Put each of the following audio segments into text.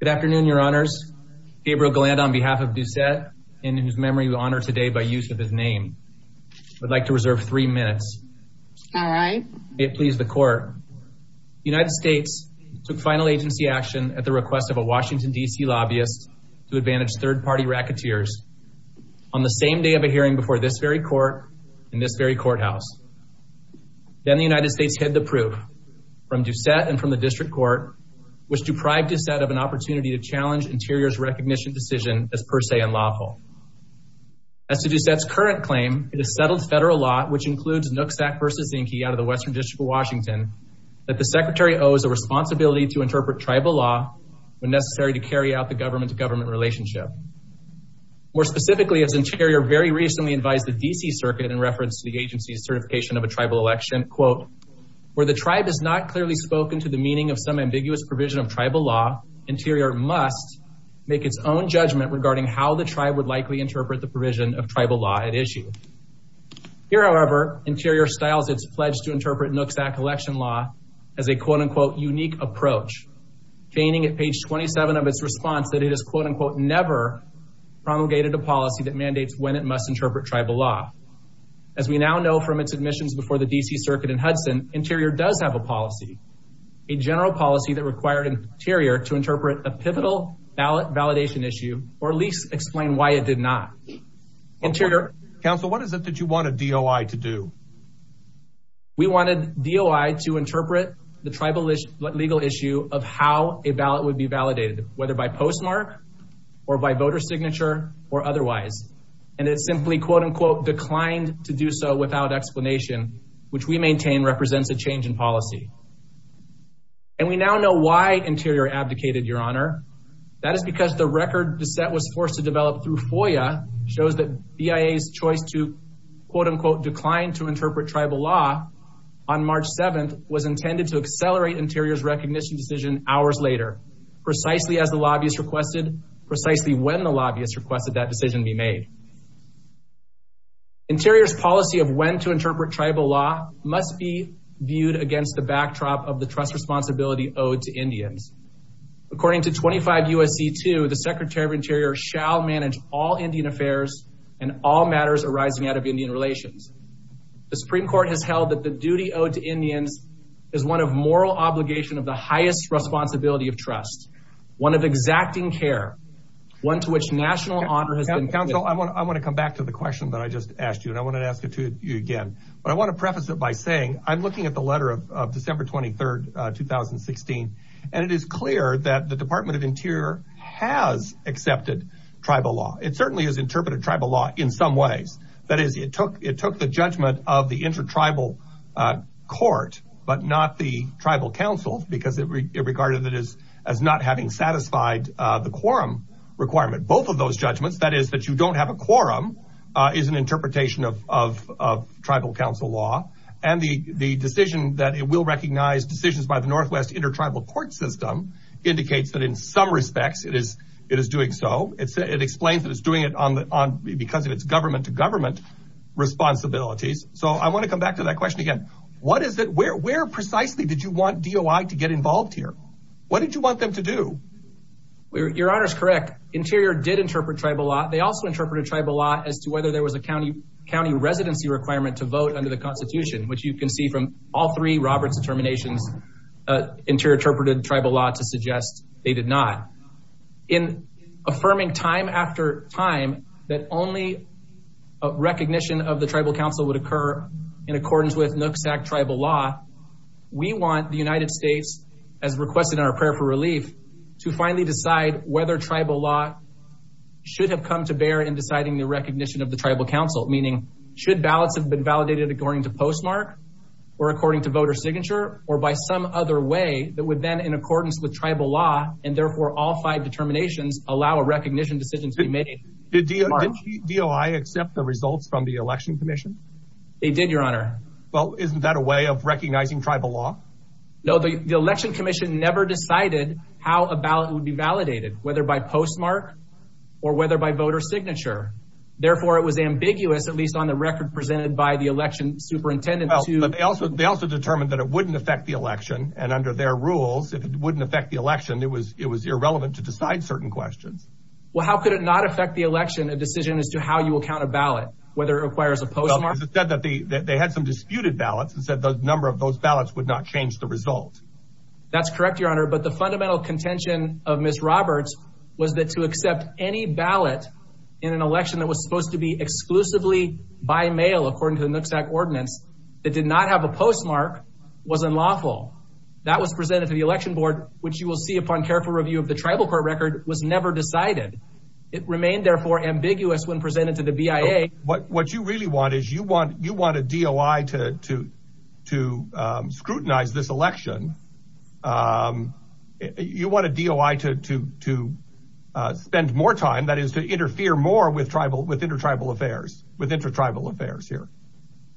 Good afternoon, your honors. Gabriel Galland on behalf of Doucette, in whose memory we honor today by use of his name, would like to reserve three minutes. May it please the court. The United States took final agency action at the request of a Washington DC lobbyist to advantage third-party racketeers on the same day of a hearing before this very court in this very courthouse. Then the United States hid the proof from Doucette and from the district court which deprived Doucette of an opportunity to challenge Interior's recognition decision as per se unlawful. As to Doucette's current claim, it is settled federal law, which includes Nooksack v. Zinke out of the Western District of Washington, that the secretary owes a responsibility to interpret tribal law when necessary to carry out the government-to-government relationship. More specifically, as Interior very recently advised the DC Circuit in reference to the agency's certification of a tribal election, quote, where the provision of tribal law, Interior must make its own judgment regarding how the tribe would likely interpret the provision of tribal law at issue. Here however, Interior styles its pledge to interpret Nooksack election law as a quote-unquote unique approach, feigning at page 27 of its response that it is quote-unquote never promulgated a policy that mandates when it must interpret tribal law. As we now know from its admissions before the DC Circuit in required Interior to interpret a pivotal ballot validation issue or at least explain why it did not. Interior... Council, what is it that you wanted DOI to do? We wanted DOI to interpret the tribal legal issue of how a ballot would be validated, whether by postmark or by voter signature or otherwise. And it simply quote-unquote declined to do so without explanation, which we maintain represents a change in policy. And we now know why Interior abdicated, Your Honor. That is because the record DeSette was forced to develop through FOIA shows that BIA's choice to quote-unquote decline to interpret tribal law on March 7th was intended to accelerate Interior's recognition decision hours later, precisely as the lobbyist requested, precisely when the lobbyist requested that decision be made. Interior's policy of when to interpret tribal law must be viewed against the backdrop of the trust responsibility owed to Indians. According to 25 U.S.C. 2, the Secretary of Interior shall manage all Indian affairs and all matters arising out of Indian relations. The Supreme Court has held that the duty owed to Indians is one of moral obligation of the highest responsibility of trust, one of exacting care, one to which national honor has been... Council, I want to come back to the question that I just asked you, and I want to ask it to you again. But I want to preface it by saying I'm looking at the letter of December 23rd, 2016, and it is clear that the Department of Interior has accepted tribal law. It certainly has interpreted tribal law in some ways. That is, it took the judgment of the intertribal court, but not the tribal council, because it regarded it as not having satisfied the quorum requirement. Both of those judgments, that is, that you don't have a quorum, is an interpretation of tribal council law. And the decision that it will recognize decisions by the Northwest Intertribal Court System indicates that in some respects it is doing so. It explains that it's doing it because of its government to government responsibilities. So I want to come back to that question again. Where precisely did you want DOI to get involved here? What did you want them to do? Your honor's correct. Interior did interpret tribal law. They also interpreted tribal law as to whether there was a county residency requirement to vote under the constitution, which you can see from all three Roberts determinations, Interior interpreted tribal law to suggest they did not. In affirming time after time that only a recognition of the tribal council would occur in accordance with Nooksack Tribal Law, we want the United States, as requested in our prayer for relief, to finally decide whether tribal law should have come to bear in deciding the recognition of the tribal council. Meaning, should ballots have been validated according to postmark or according to voter signature or by some other way that would then, in accordance with tribal law and therefore all five determinations, allow a recognition decision to be made in postmark? Did DOI accept the results from the election commission? They did, your honor. Well, isn't that a way of recognizing tribal law? No, the election commission never decided how a ballot would be validated, whether by postmark or whether by voter signature. Therefore, it was ambiguous, at least on the record presented by the election superintendent. But they also determined that it wouldn't affect the election and under their rules, if it wouldn't affect the election, it was irrelevant to decide certain questions. Well, how could it not affect the election, a decision as to how you will count a ballot, whether it requires a postmark? Because it said that they had some disputed ballots and said the number of those ballots would not change the result. That's correct, your honor. But the fundamental contention of Ms. Roberts was that to accept any ballot in an election that was supposed to be exclusively by mail, according to the Nooksack ordinance, that did not have a postmark was unlawful. That was presented to the election board, which you will see upon careful review of the tribal court record, was never decided. It remained, therefore, ambiguous when presented to the BIA. What you really want is you want a DOI to scrutinize this election. You want a DOI to spend more time, that is, to interfere more with inter-tribal affairs here.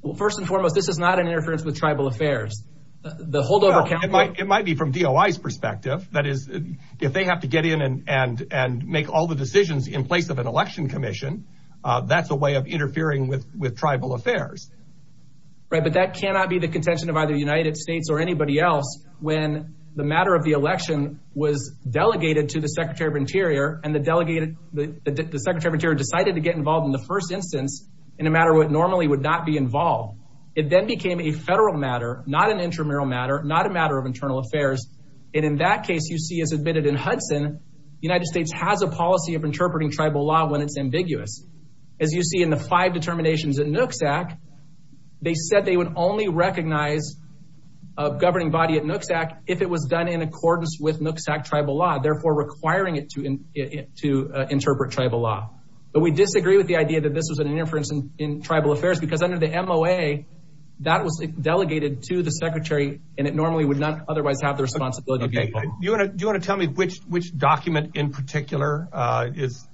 Well, first and foremost, this is not an interference with tribal affairs. It might be from DOI's perspective. That is, if they have to get in and make all the decisions in place of an election commission, that's a way of interfering with tribal affairs. Right, but that cannot be the contention of either the United States or anybody else when the matter of the election was delegated to the Secretary of Interior and the Secretary of Interior decided to get involved in the first instance in a matter what normally would not be involved. It then became a federal matter, not an intramural matter, not a matter of internal affairs. And in that case, you see, as admitted in Hudson, the United States has a policy of interpreting tribal law when it's making determinations at NOOCS Act. They said they would only recognize a governing body at NOOCS Act if it was done in accordance with NOOCS Act tribal law, therefore requiring it to interpret tribal law. But we disagree with the idea that this was an interference in tribal affairs because under the MOA, that was delegated to the Secretary and it normally would not otherwise have the responsibility to get involved. Do you want to tell me which document in particular has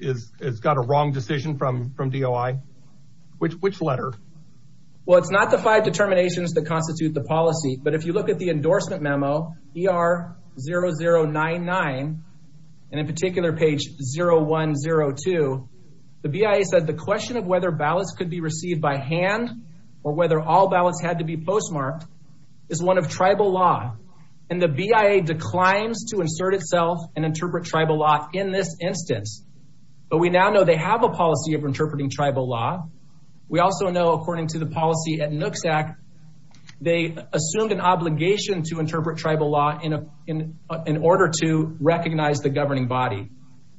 got a wrong decision from DOI? Which letter? Well, it's not the five determinations that constitute the policy. But if you look at the endorsement memo, ER0099, and in particular page 0102, the BIA said the question of whether ballots could be received by hand or whether all ballots had to be postmarked is one of tribal law. And the BIA declines to insert itself and interpret tribal law in this instance. But we now know they have a right to interpret tribal law. We also know, according to the policy at NOOCS Act, they assumed an obligation to interpret tribal law in order to recognize the governing body.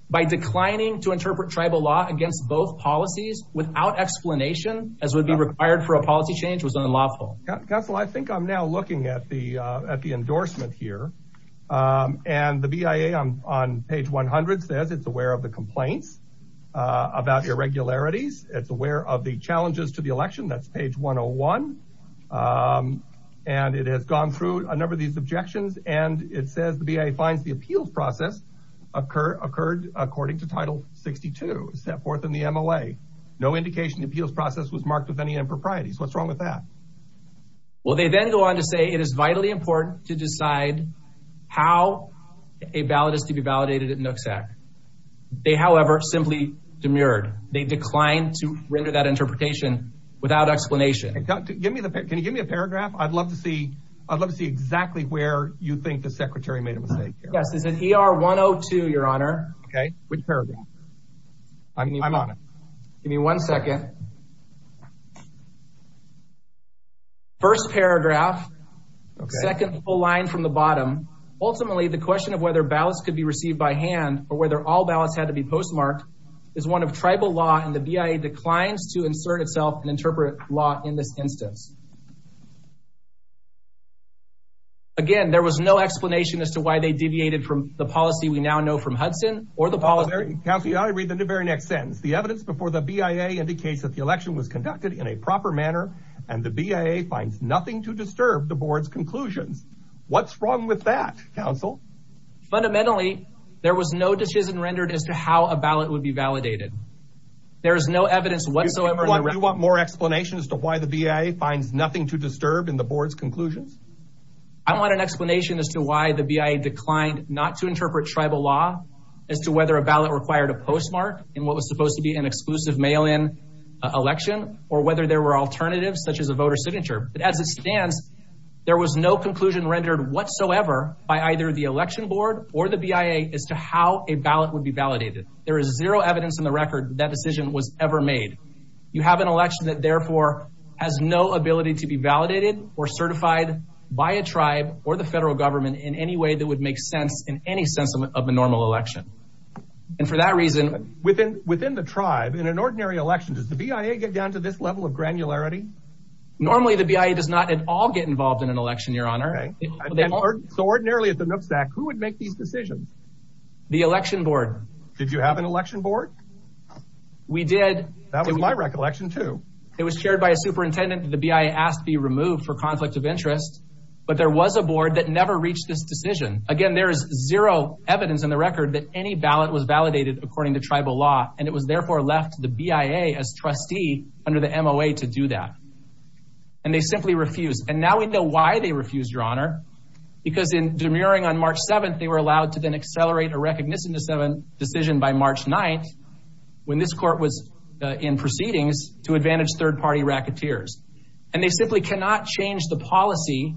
By declining to interpret tribal law against both policies without explanation, as would be required for a policy change, was unlawful. Counsel, I think I'm now looking at the endorsement here. And the BIA on page 100 says it's aware of the complaints about irregularities. It's aware of the challenges to the election. That's page 101. And it has gone through a number of these objections. And it says the BIA finds the appeals process occurred according to Title 62 set forth in the MLA. No indication the appeals process was marked with any improprieties. What's wrong with that? Well, they then go on to say it is vitally important to decide how a ballot is to be validated at NOOCS Act. They, however, simply demurred. They declined to render that interpretation without explanation. Give me the, can you give me a paragraph? I'd love to see, I'd love to see exactly where you think the secretary made a mistake. Yes, it's in ER 102, Your Honor. Okay, which paragraph? I'm on it. Give me one second. First paragraph, second full line from the bottom. Ultimately, the question of whether ballots could be received by hand or whether all ballots had to be postmarked is one of tribal law and the BIA declines to insert itself and interpret law in this instance. Again, there was no explanation as to why they deviated from the policy we now know from Hudson or the policy. Counselor, you ought to read the very next sentence. The evidence before the BIA indicates that the election was conducted in a proper manner and the BIA finds nothing to disturb the board's conclusions. What's wrong with that, counsel? Fundamentally, there was no decision rendered as to how a ballot would be validated. There is no evidence whatsoever. Do you want more explanation as to why the BIA finds nothing to disturb in the board's conclusions? I want an explanation as to why the BIA declined not to interpret tribal law as to whether a ballot required a postmark in what was supposed to be an exclusive mail-in election or whether there were alternatives such as a voter signature. But as it stands, there was no conclusion rendered whatsoever by either the election board or the BIA as to how a ballot would be validated. There is zero evidence in the record that decision was ever made. You have an election that therefore has no ability to be validated or certified by a tribe or the federal government in any way that would make sense in any sense of a normal election. And for that reason, within within the tribe, in an ordinary election, does the BIA get down to this level of granularity? Normally, the BIA does not at all get involved in an election, Your Honor. So ordinarily at the Nooksack, who would make these decisions? The election board. Did you have an election board? We did. That was my recollection, too. It was chaired by a superintendent. The BIA asked to be removed for conflict of interest. But there was a board that never reached this decision. Again, there is zero evidence in the record that any ballot was validated according to tribal law, and it was therefore left to the BIA as trustee under the MOA to do that. And they simply refused. And now we know why they refused, Your Honor, because in demurring on March 7th, they were allowed to then accelerate a recognition of a decision by March 9th when this court was in proceedings to advantage third party racketeers. And they simply cannot change the policy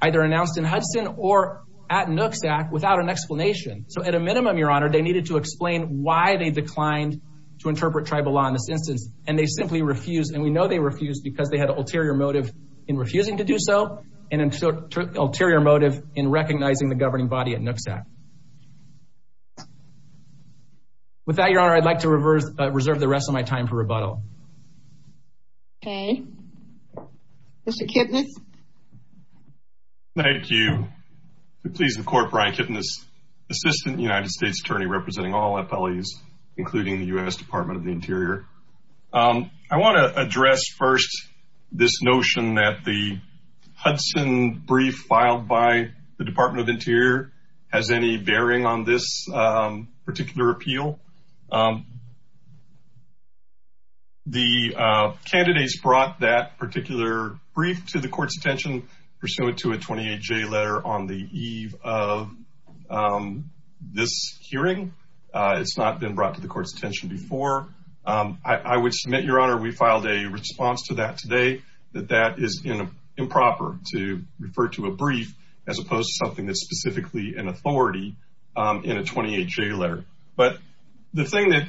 either announced in Hudson or at Nooksack without an explanation. So at a minimum, Your Honor, they needed to explain why they declined to interpret tribal law in this instance, and they simply refused. And we know they refused because they had an ulterior motive in refusing to do so and an ulterior motive in recognizing the governing body at Nooksack. With that, Your Honor, I'd like to reserve the rest of my time for rebuttal. Okay. Mr. Kipnis. Thank you. Please, the Court, Brian Kipnis, Assistant United States Attorney representing all of us here. I want to address first this notion that the Hudson brief filed by the Department of Interior has any bearing on this particular appeal. The candidates brought that particular brief to the court's attention pursuant to a 28-J letter on the eve of this hearing. It's not been brought to the court's attention before. I would submit, Your Honor, we filed a response to that today, that that is improper to refer to a brief as opposed to something that's specifically an authority in a 28-J letter. But the thing that,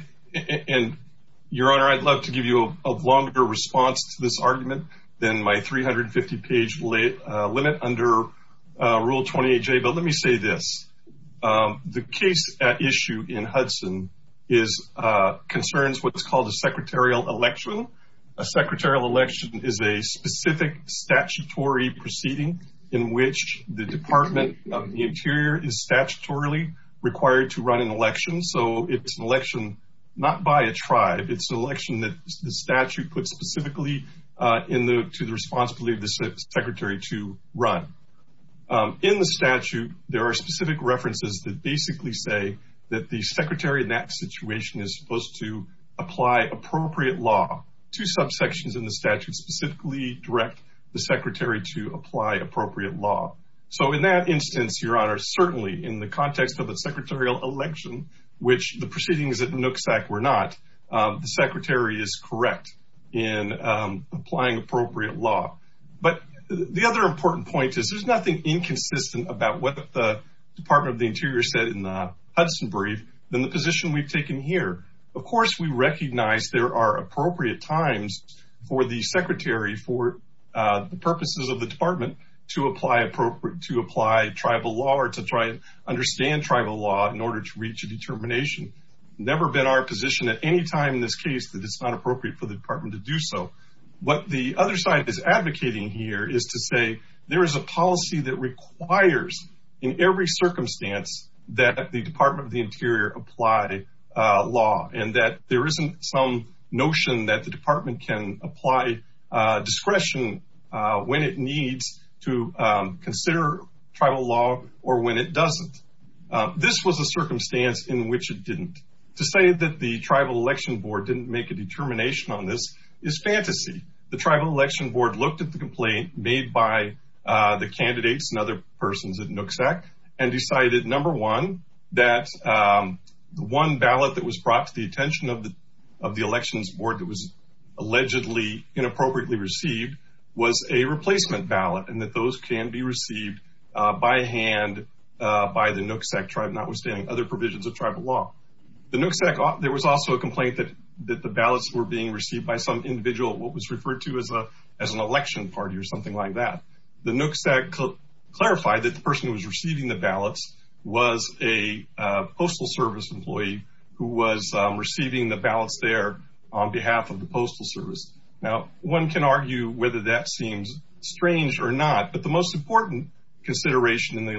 and Your Honor, I'd love to give you a longer response to this argument than my 350-page limit under Rule 28-J, but let me say this. The case at issue in Hudson concerns what's called a secretarial election. A secretarial election is a specific statutory proceeding in which the Department of the Interior is statutorily required to run an election. So it's an election not by a tribe. It's an election that the statute puts specifically to the responsibility of the Secretary to run. In the statute, there are specific references that basically say that the Secretary in that situation is supposed to apply appropriate law. Two subsections in the statute specifically direct the Secretary to apply appropriate law. So in that instance, Your Honor, certainly in the context of a secretarial election, which the proceedings at Nooksack were not, the Secretary is correct in applying appropriate law. But the other important point is there's nothing inconsistent about what the Department of the Interior said in the Hudson brief than the position we've taken here. Of course, we recognize there are appropriate times for the Secretary for the purposes of the Department to apply tribal law or to try and understand tribal law in order to reach a determination. Never been our position at any time in this case that it's not appropriate for the Department to do so. What the other side is advocating here is to say there is a policy that requires in every circumstance that the Department of the Interior apply law and that there isn't some notion that the Department can apply discretion when it needs to consider tribal law or when it doesn't. This was a circumstance in which it didn't. To say that the Tribal Election Board didn't make a determination on this is fantasy. The Tribal Election Board looked at the complaint made by the candidates and other persons at Nooksack and decided, number one, that the one ballot that was brought to the attention of the Elections Board that was allegedly inappropriately received was a replacement ballot and that those can be received by hand by the Nooksack tribe, notwithstanding other provisions of the Nooksack, there was also a complaint that the ballots were being received by some individual, what was referred to as an election party or something like that. The Nooksack clarified that the person who was receiving the ballots was a Postal Service employee who was receiving the ballots there on behalf of the Postal Service. Now, one can argue whether that seems strange or not, but the most important consideration in the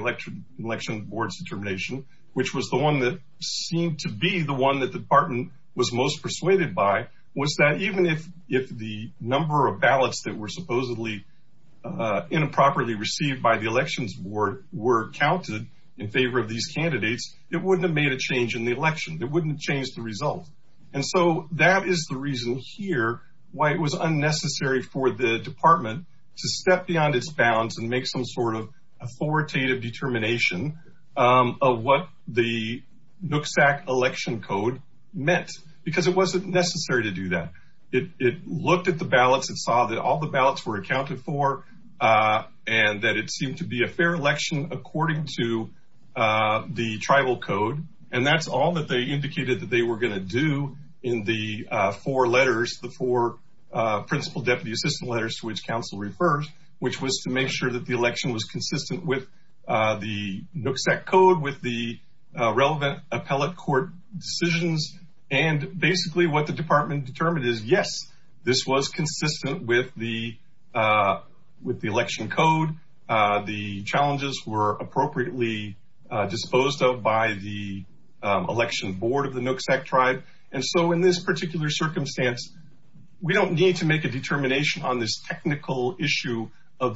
Election Board's determination, which was the one that seemed to be the one that the department was most persuaded by, was that even if the number of ballots that were supposedly improperly received by the Elections Board were counted in favor of these candidates, it wouldn't have made a change in the election. It wouldn't change the result. And so that is the reason here why it was unnecessary for the department to step beyond its bounds and make some sort of authoritative determination of what the Nooksack election code meant, because it wasn't necessary to do that. It looked at the ballots and saw that all the ballots were accounted for and that it seemed to be a fair election according to the tribal code. And that's all that they indicated that they were going to do in the four letters, the to make sure that the election was consistent with the Nooksack code, with the relevant appellate court decisions. And basically what the department determined is, yes, this was consistent with the election code. The challenges were appropriately disposed of by the Election Board of the Nooksack tribe. And so in this particular circumstance, we don't need to make a determination on this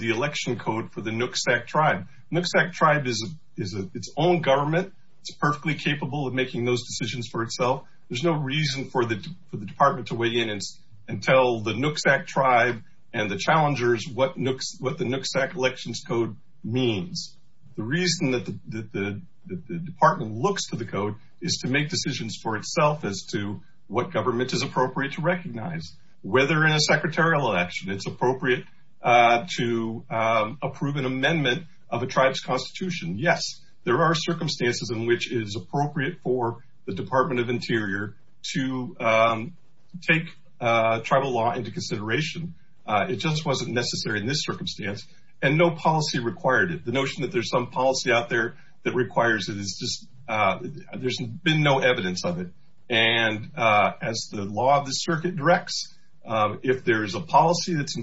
election code for the Nooksack tribe. Nooksack tribe is its own government. It's perfectly capable of making those decisions for itself. There's no reason for the department to weigh in and tell the Nooksack tribe and the challengers what the Nooksack elections code means. The reason that the department looks to the code is to make decisions for itself as to what government is appropriate to recognize, whether in a secretarial election it's approve an amendment of a tribe's constitution. Yes, there are circumstances in which it is appropriate for the Department of Interior to take tribal law into consideration. It just wasn't necessary in this circumstance. And no policy required it. The notion that there's some policy out there that requires it is just there's been no evidence of it. And as the law of the circuit directs, if there is a policy that's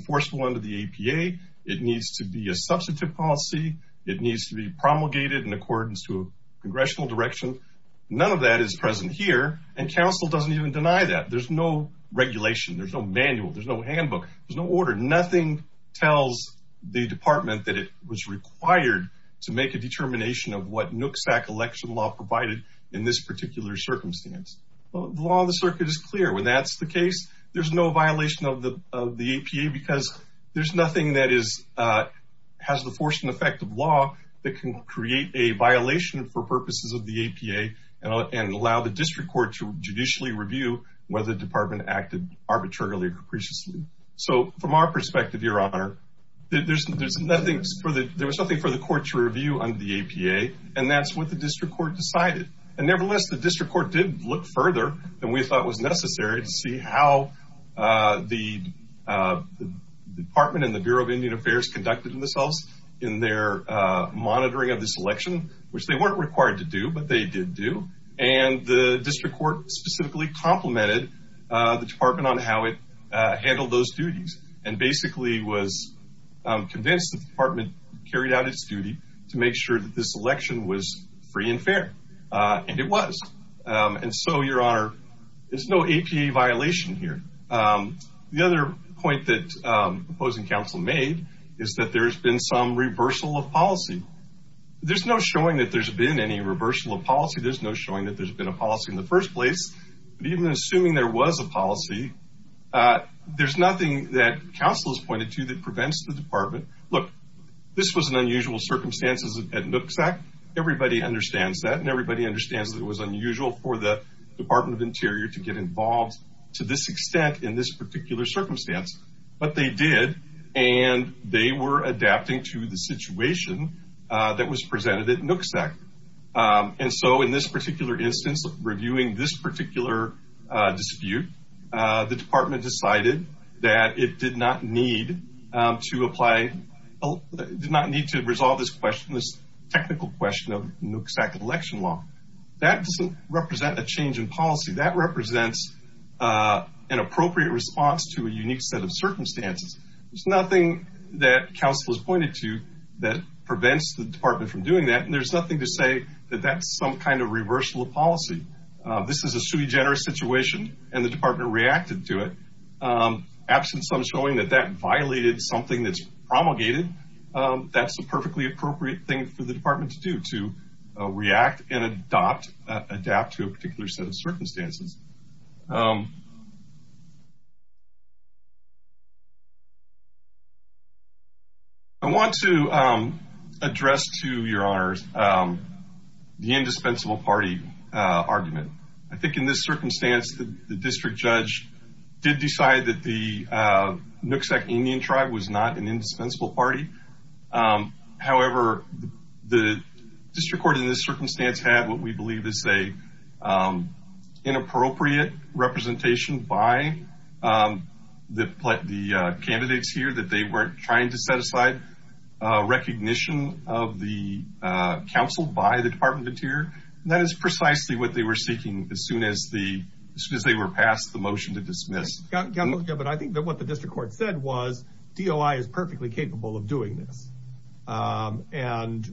to be a substantive policy, it needs to be promulgated in accordance to a congressional direction. None of that is present here. And council doesn't even deny that. There's no regulation. There's no manual. There's no handbook. There's no order. Nothing tells the department that it was required to make a determination of what Nooksack election law provided in this particular circumstance. The law of the circuit is clear when that's the case. There's no violation of the of the APA because there's nothing that is has the force and effect of law that can create a violation for purposes of the APA and allow the district court to judicially review whether the department acted arbitrarily or capriciously. So from our perspective, your honor, there's nothing for the there was nothing for the court to review on the APA. And that's what the district court decided. And nevertheless, the district court did look further than we thought was necessary to how the department and the Bureau of Indian Affairs conducted themselves in their monitoring of this election, which they weren't required to do, but they did do. And the district court specifically complimented the department on how it handled those duties and basically was convinced the department carried out its duty to make sure that this election was free and fair. And it was. And so, your honor, there's no APA violation here. The other point that opposing counsel made is that there's been some reversal of policy. There's no showing that there's been any reversal of policy. There's no showing that there's been a policy in the first place. Even assuming there was a policy, there's nothing that counsel has pointed to that prevents the department. Look, this was an unusual circumstances at Nooksack. Everybody understands that and everybody understands that it was unusual for the to this extent in this particular circumstance. But they did. And they were adapting to the situation that was presented at Nooksack. And so in this particular instance, reviewing this particular dispute, the department decided that it did not need to apply, did not need to resolve this question, this technical question of Nooksack election law. That doesn't represent a change in policy. That represents an appropriate response to a unique set of circumstances. There's nothing that counsel has pointed to that prevents the department from doing that. And there's nothing to say that that's some kind of reversal of policy. This is a sui generis situation and the department reacted to it. Absence of showing that that violated something that's promulgated, that's a perfectly appropriate thing for the department to do, to react and adapt to a particular set of circumstances. I want to address to your honors the indispensable party argument. I think in this circumstance, the district judge did decide that the Nooksack Indian tribe was not an indispensable party. However, the district court in this circumstance had what we believe is an inappropriate representation by the candidates here that they weren't trying to set aside. Recognition of the counsel by the Department of the Interior, that is precisely what they were seeking as soon as they were passed the motion to dismiss. But I think that what the district court said was DOI is perfectly capable of doing this. And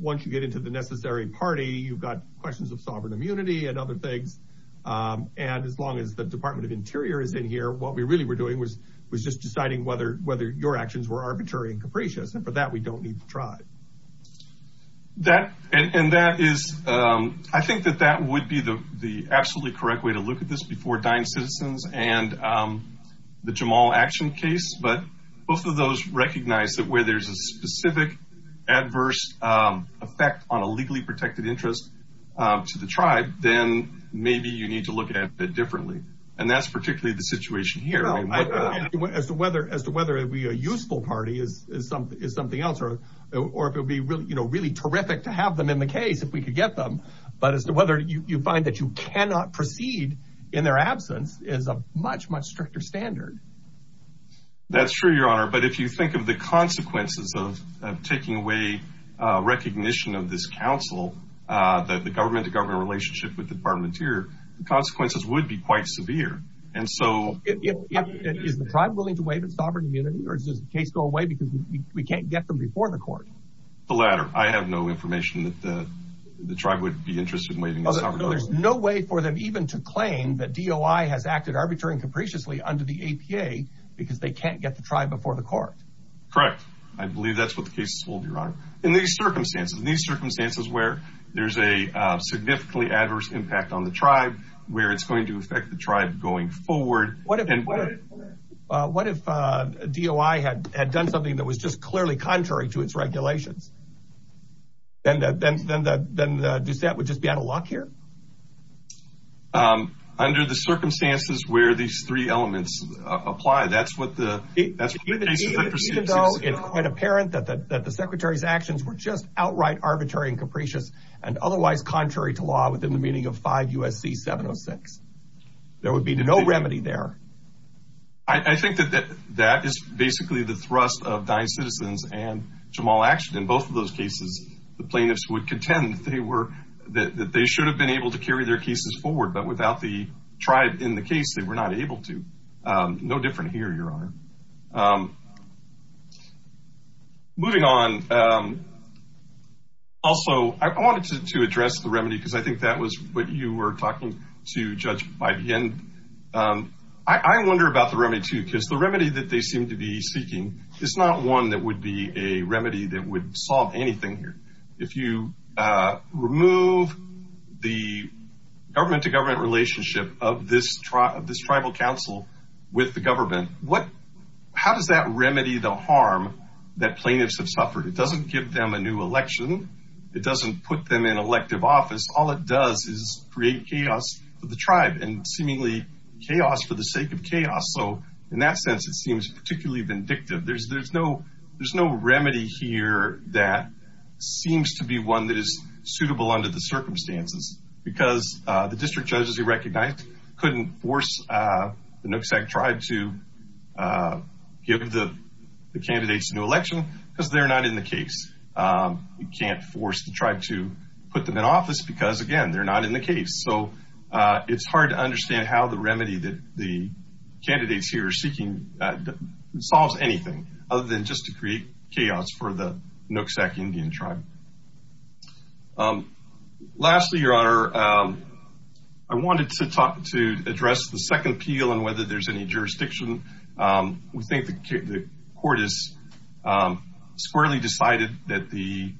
once you get into the necessary party, you've got questions of sovereign immunity and other things. And as long as the Department of Interior is in here, what we really were doing was was just deciding whether whether your actions were arbitrary and capricious. And for that, we don't need to try. That and that is I think that that would be the absolutely correct way to look at this before Dine Citizens and the Jamal action case. But both of those recognize that where there's a specific adverse effect on a legally protected interest to the tribe, then maybe you need to look at it differently. And that's particularly the situation here. As to whether as to whether it be a useful party is something else or if it would be really, you know, really terrific to have them in the case if we could get them. But as to whether you find that you cannot proceed in their absence is a much, much stricter standard. That's true, Your Honor, but if you think of the consequences of taking away recognition of this council, that the government to government relationship with the Department of Interior, the consequences would be quite severe. And so is the tribe willing to waive its sovereign immunity or does the case go away because we can't get them before the court? The latter. I have no information that the tribe would be interested in waiving the sovereign. There's no way for them even to claim that DOI has acted arbitrarily and capriciously under the APA because they can't get the tribe before the court. Correct. I believe that's what the case will be run in these circumstances, these circumstances where there's a significantly adverse impact on the tribe, where it's going to affect the tribe going forward. What if DOI had done something that was just clearly contrary to its regulations? Then the Doucette would just be out of luck here? Under the circumstances where these three elements apply, that's what the case is that precedes it. Even though it's quite apparent that the secretary's actions were just outright arbitrary and capricious and otherwise contrary to law within the meaning of 5 U.S.C. 706. There would be no remedy there. I think that that is basically the thrust of Dye Citizens and Jamal Action. In both of those cases, the plaintiffs would contend that they should have been able to carry their cases forward, but without the tribe in the case, they were not able to. No different here, Your Honor. Moving on, also, I wanted to address the remedy because I think that was what you were talking to Judge Biden. I wonder about the remedy, too, because the remedy that they seem to be seeking is not one that would be a remedy that would solve anything here. If you remove the government-to-government relationship of this tribal council with the government, how does that remedy the harm that plaintiffs have suffered? It doesn't give them a new election. It doesn't put them in elective office. All it does is create chaos for the tribe and seemingly chaos for the sake of chaos. So, in that sense, it seems particularly vindictive. There's no remedy here that seems to be one that is suitable under the circumstances because the district judges you recognized couldn't force the Nooksack tribe to give the candidates a new election because they're not in the case. You can't force the tribe to put them in office because, again, they're not in the case. So, it's hard to understand how the remedy that the candidates here are seeking solves anything other than just to create chaos for the Nooksack Indian tribe. Lastly, Your Honor, I wanted to address the second appeal and whether there's any jurisdiction. We think the court has squarely decided that the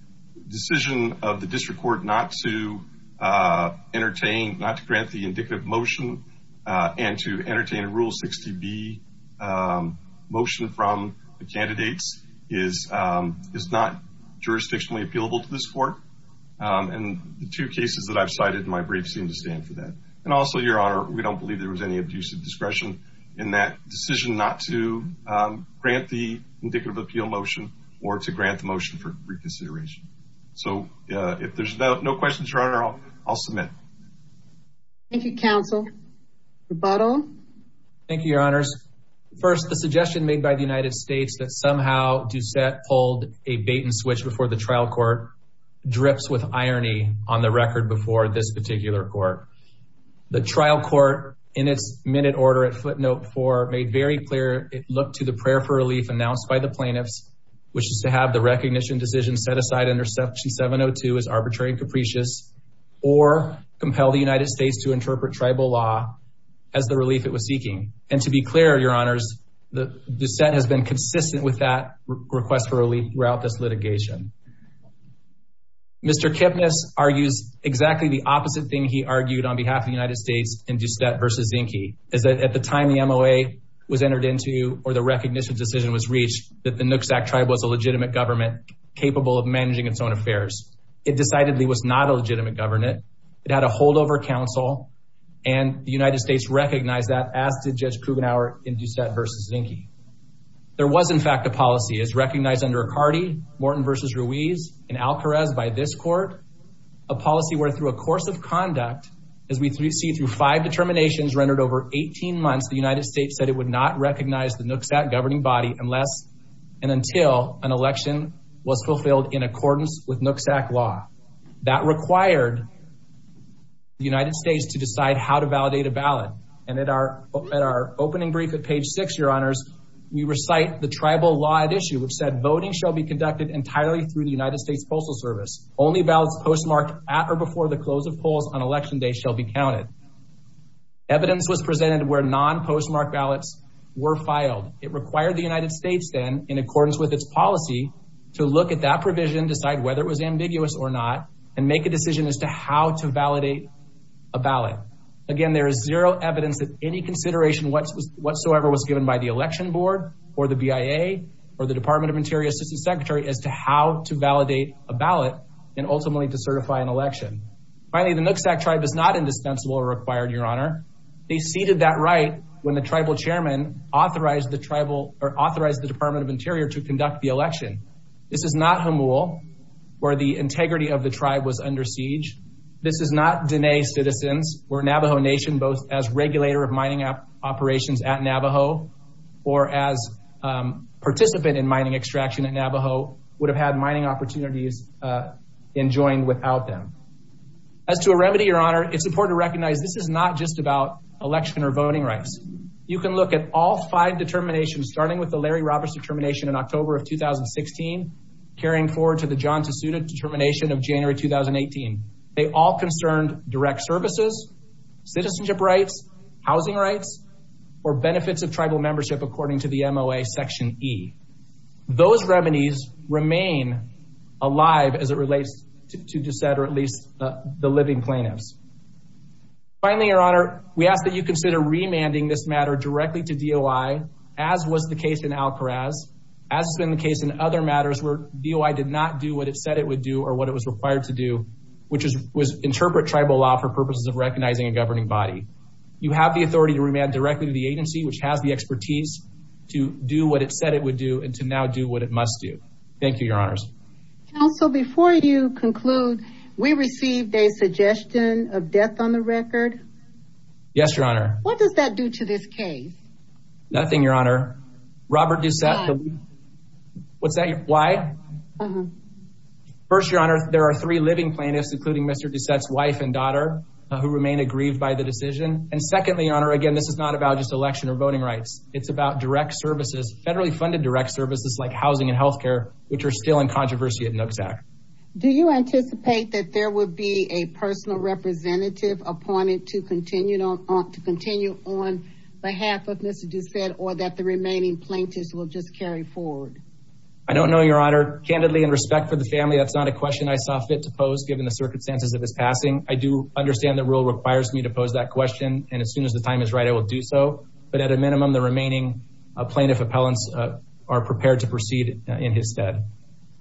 decision of the district court not to entertain, not to grant the indicative motion and to entertain a Rule 60B motion from the candidates is not jurisdictionally appealable to this court. And the two cases that I've cited in my brief seem to stand for that. And also, Your Honor, we don't believe there was any abusive discretion in that decision not to grant the indicative appeal motion or to grant the motion for reconsideration. So, if there's no questions, Your Honor, I'll submit. Thank you, counsel. Rebuttal? Thank you, Your Honors. First, the suggestion made by the United States that somehow Doucette pulled a bait and switch before the trial court drips with irony on the record before this particular court. The trial court, in its minute order at footnote four, made very clear it looked to the prayer for relief announced by the plaintiffs, which is to have the recognition decision set aside under Section 702 as arbitrary and capricious, or compel the United States to interpret tribal law as the relief it was seeking. And to be clear, Your Honors, Doucette has been consistent with that request for relief throughout this litigation. Mr. Kipnis argues exactly the opposite thing he argued on behalf of the United States in Doucette versus Zinke, is that at the time the MOA was entered into, or the recognition decision was reached, that the Nooksack tribe was a legitimate government capable of managing its own affairs. It decidedly was not a legitimate government. It had a holdover counsel, and the United States recognized that, as did Judge Kugenhauer in Doucette versus Zinke. There was in fact a policy, as recognized under McCarty, Morton versus Richardson, Ruiz and Alcarez by this court, a policy where through a course of conduct, as we see through five determinations rendered over 18 months, the United States said it would not recognize the Nooksack governing body unless and until an election was fulfilled in accordance with Nooksack law. That required the United States to decide how to validate a ballot. And at our opening brief at page six, Your Honors, we recite the tribal law at issue, which said voting shall be conducted entirely through the United States Postal Service, only ballots postmarked at or before the close of polls on election day shall be counted. Evidence was presented where non-postmarked ballots were filed. It required the United States then, in accordance with its policy, to look at that provision, decide whether it was ambiguous or not, and make a decision as to how to validate a ballot. Again, there is zero evidence that any consideration whatsoever was given by the Department of Interior Assistant Secretary as to how to validate a ballot and ultimately to certify an election. Finally, the Nooksack tribe is not indispensable or required, Your Honor. They ceded that right when the tribal chairman authorized the department of Interior to conduct the election. This is not Hamul, where the integrity of the tribe was under siege. This is not Diné citizens, or Navajo Nation, both as regulator of mining operations at Navajo would have had mining opportunities enjoined without them. As to a remedy, Your Honor, it's important to recognize this is not just about election or voting rights. You can look at all five determinations, starting with the Larry Roberts determination in October of 2016, carrying forward to the John Tasuda determination of January, 2018. They all concerned direct services, citizenship rights, housing rights, or benefits of tribal membership, according to the MOA Section E. Those remedies remain alive as it relates to Deset, or at least the living plaintiffs. Finally, Your Honor, we ask that you consider remanding this matter directly to DOI, as was the case in Alcoraz, as has been the case in other matters where DOI did not do what it said it would do or what it was required to do, which was interpret tribal law for purposes of recognizing a governing body. You have the authority to remand directly to the agency, which has the expertise to do what it said it would do, and to now do what it must do. Thank you, Your Honors. Counsel, before you conclude, we received a suggestion of death on the record. Yes, Your Honor. What does that do to this case? Nothing, Your Honor. Robert Deset, what's that, why? First, Your Honor, there are three living plaintiffs, including Mr. Deset's wife and daughter, who remain aggrieved by the decision. And secondly, Your Honor, again, this is not about just election or voting rights. It's about direct services, federally funded direct services like housing and healthcare, which are still in controversy at Nooks Act. Do you anticipate that there would be a personal representative appointed to continue on behalf of Mr. Deset or that the remaining plaintiffs will just carry forward? I don't know, Your Honor. Candidly, in respect for the family, that's not a question I saw fit to pose given the circumstances of his passing. I do understand the rule requires me to pose that question. And as soon as the time is right, I will do so. But at a minimum, the remaining plaintiff appellants are prepared to proceed in his stead.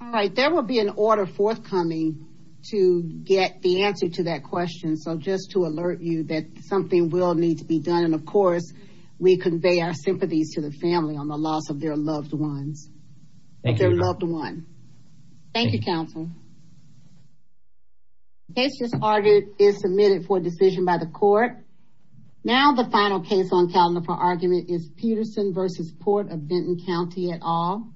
All right. There will be an order forthcoming to get the answer to that question. So just to alert you that something will need to be done. And of course, we convey our sympathies to the family on the loss of their loved ones, their loved one. Thank you, counsel. Case just ordered is submitted for decision by the court. Now, the final case on calendar for argument is Peterson versus Port of Benton County et al.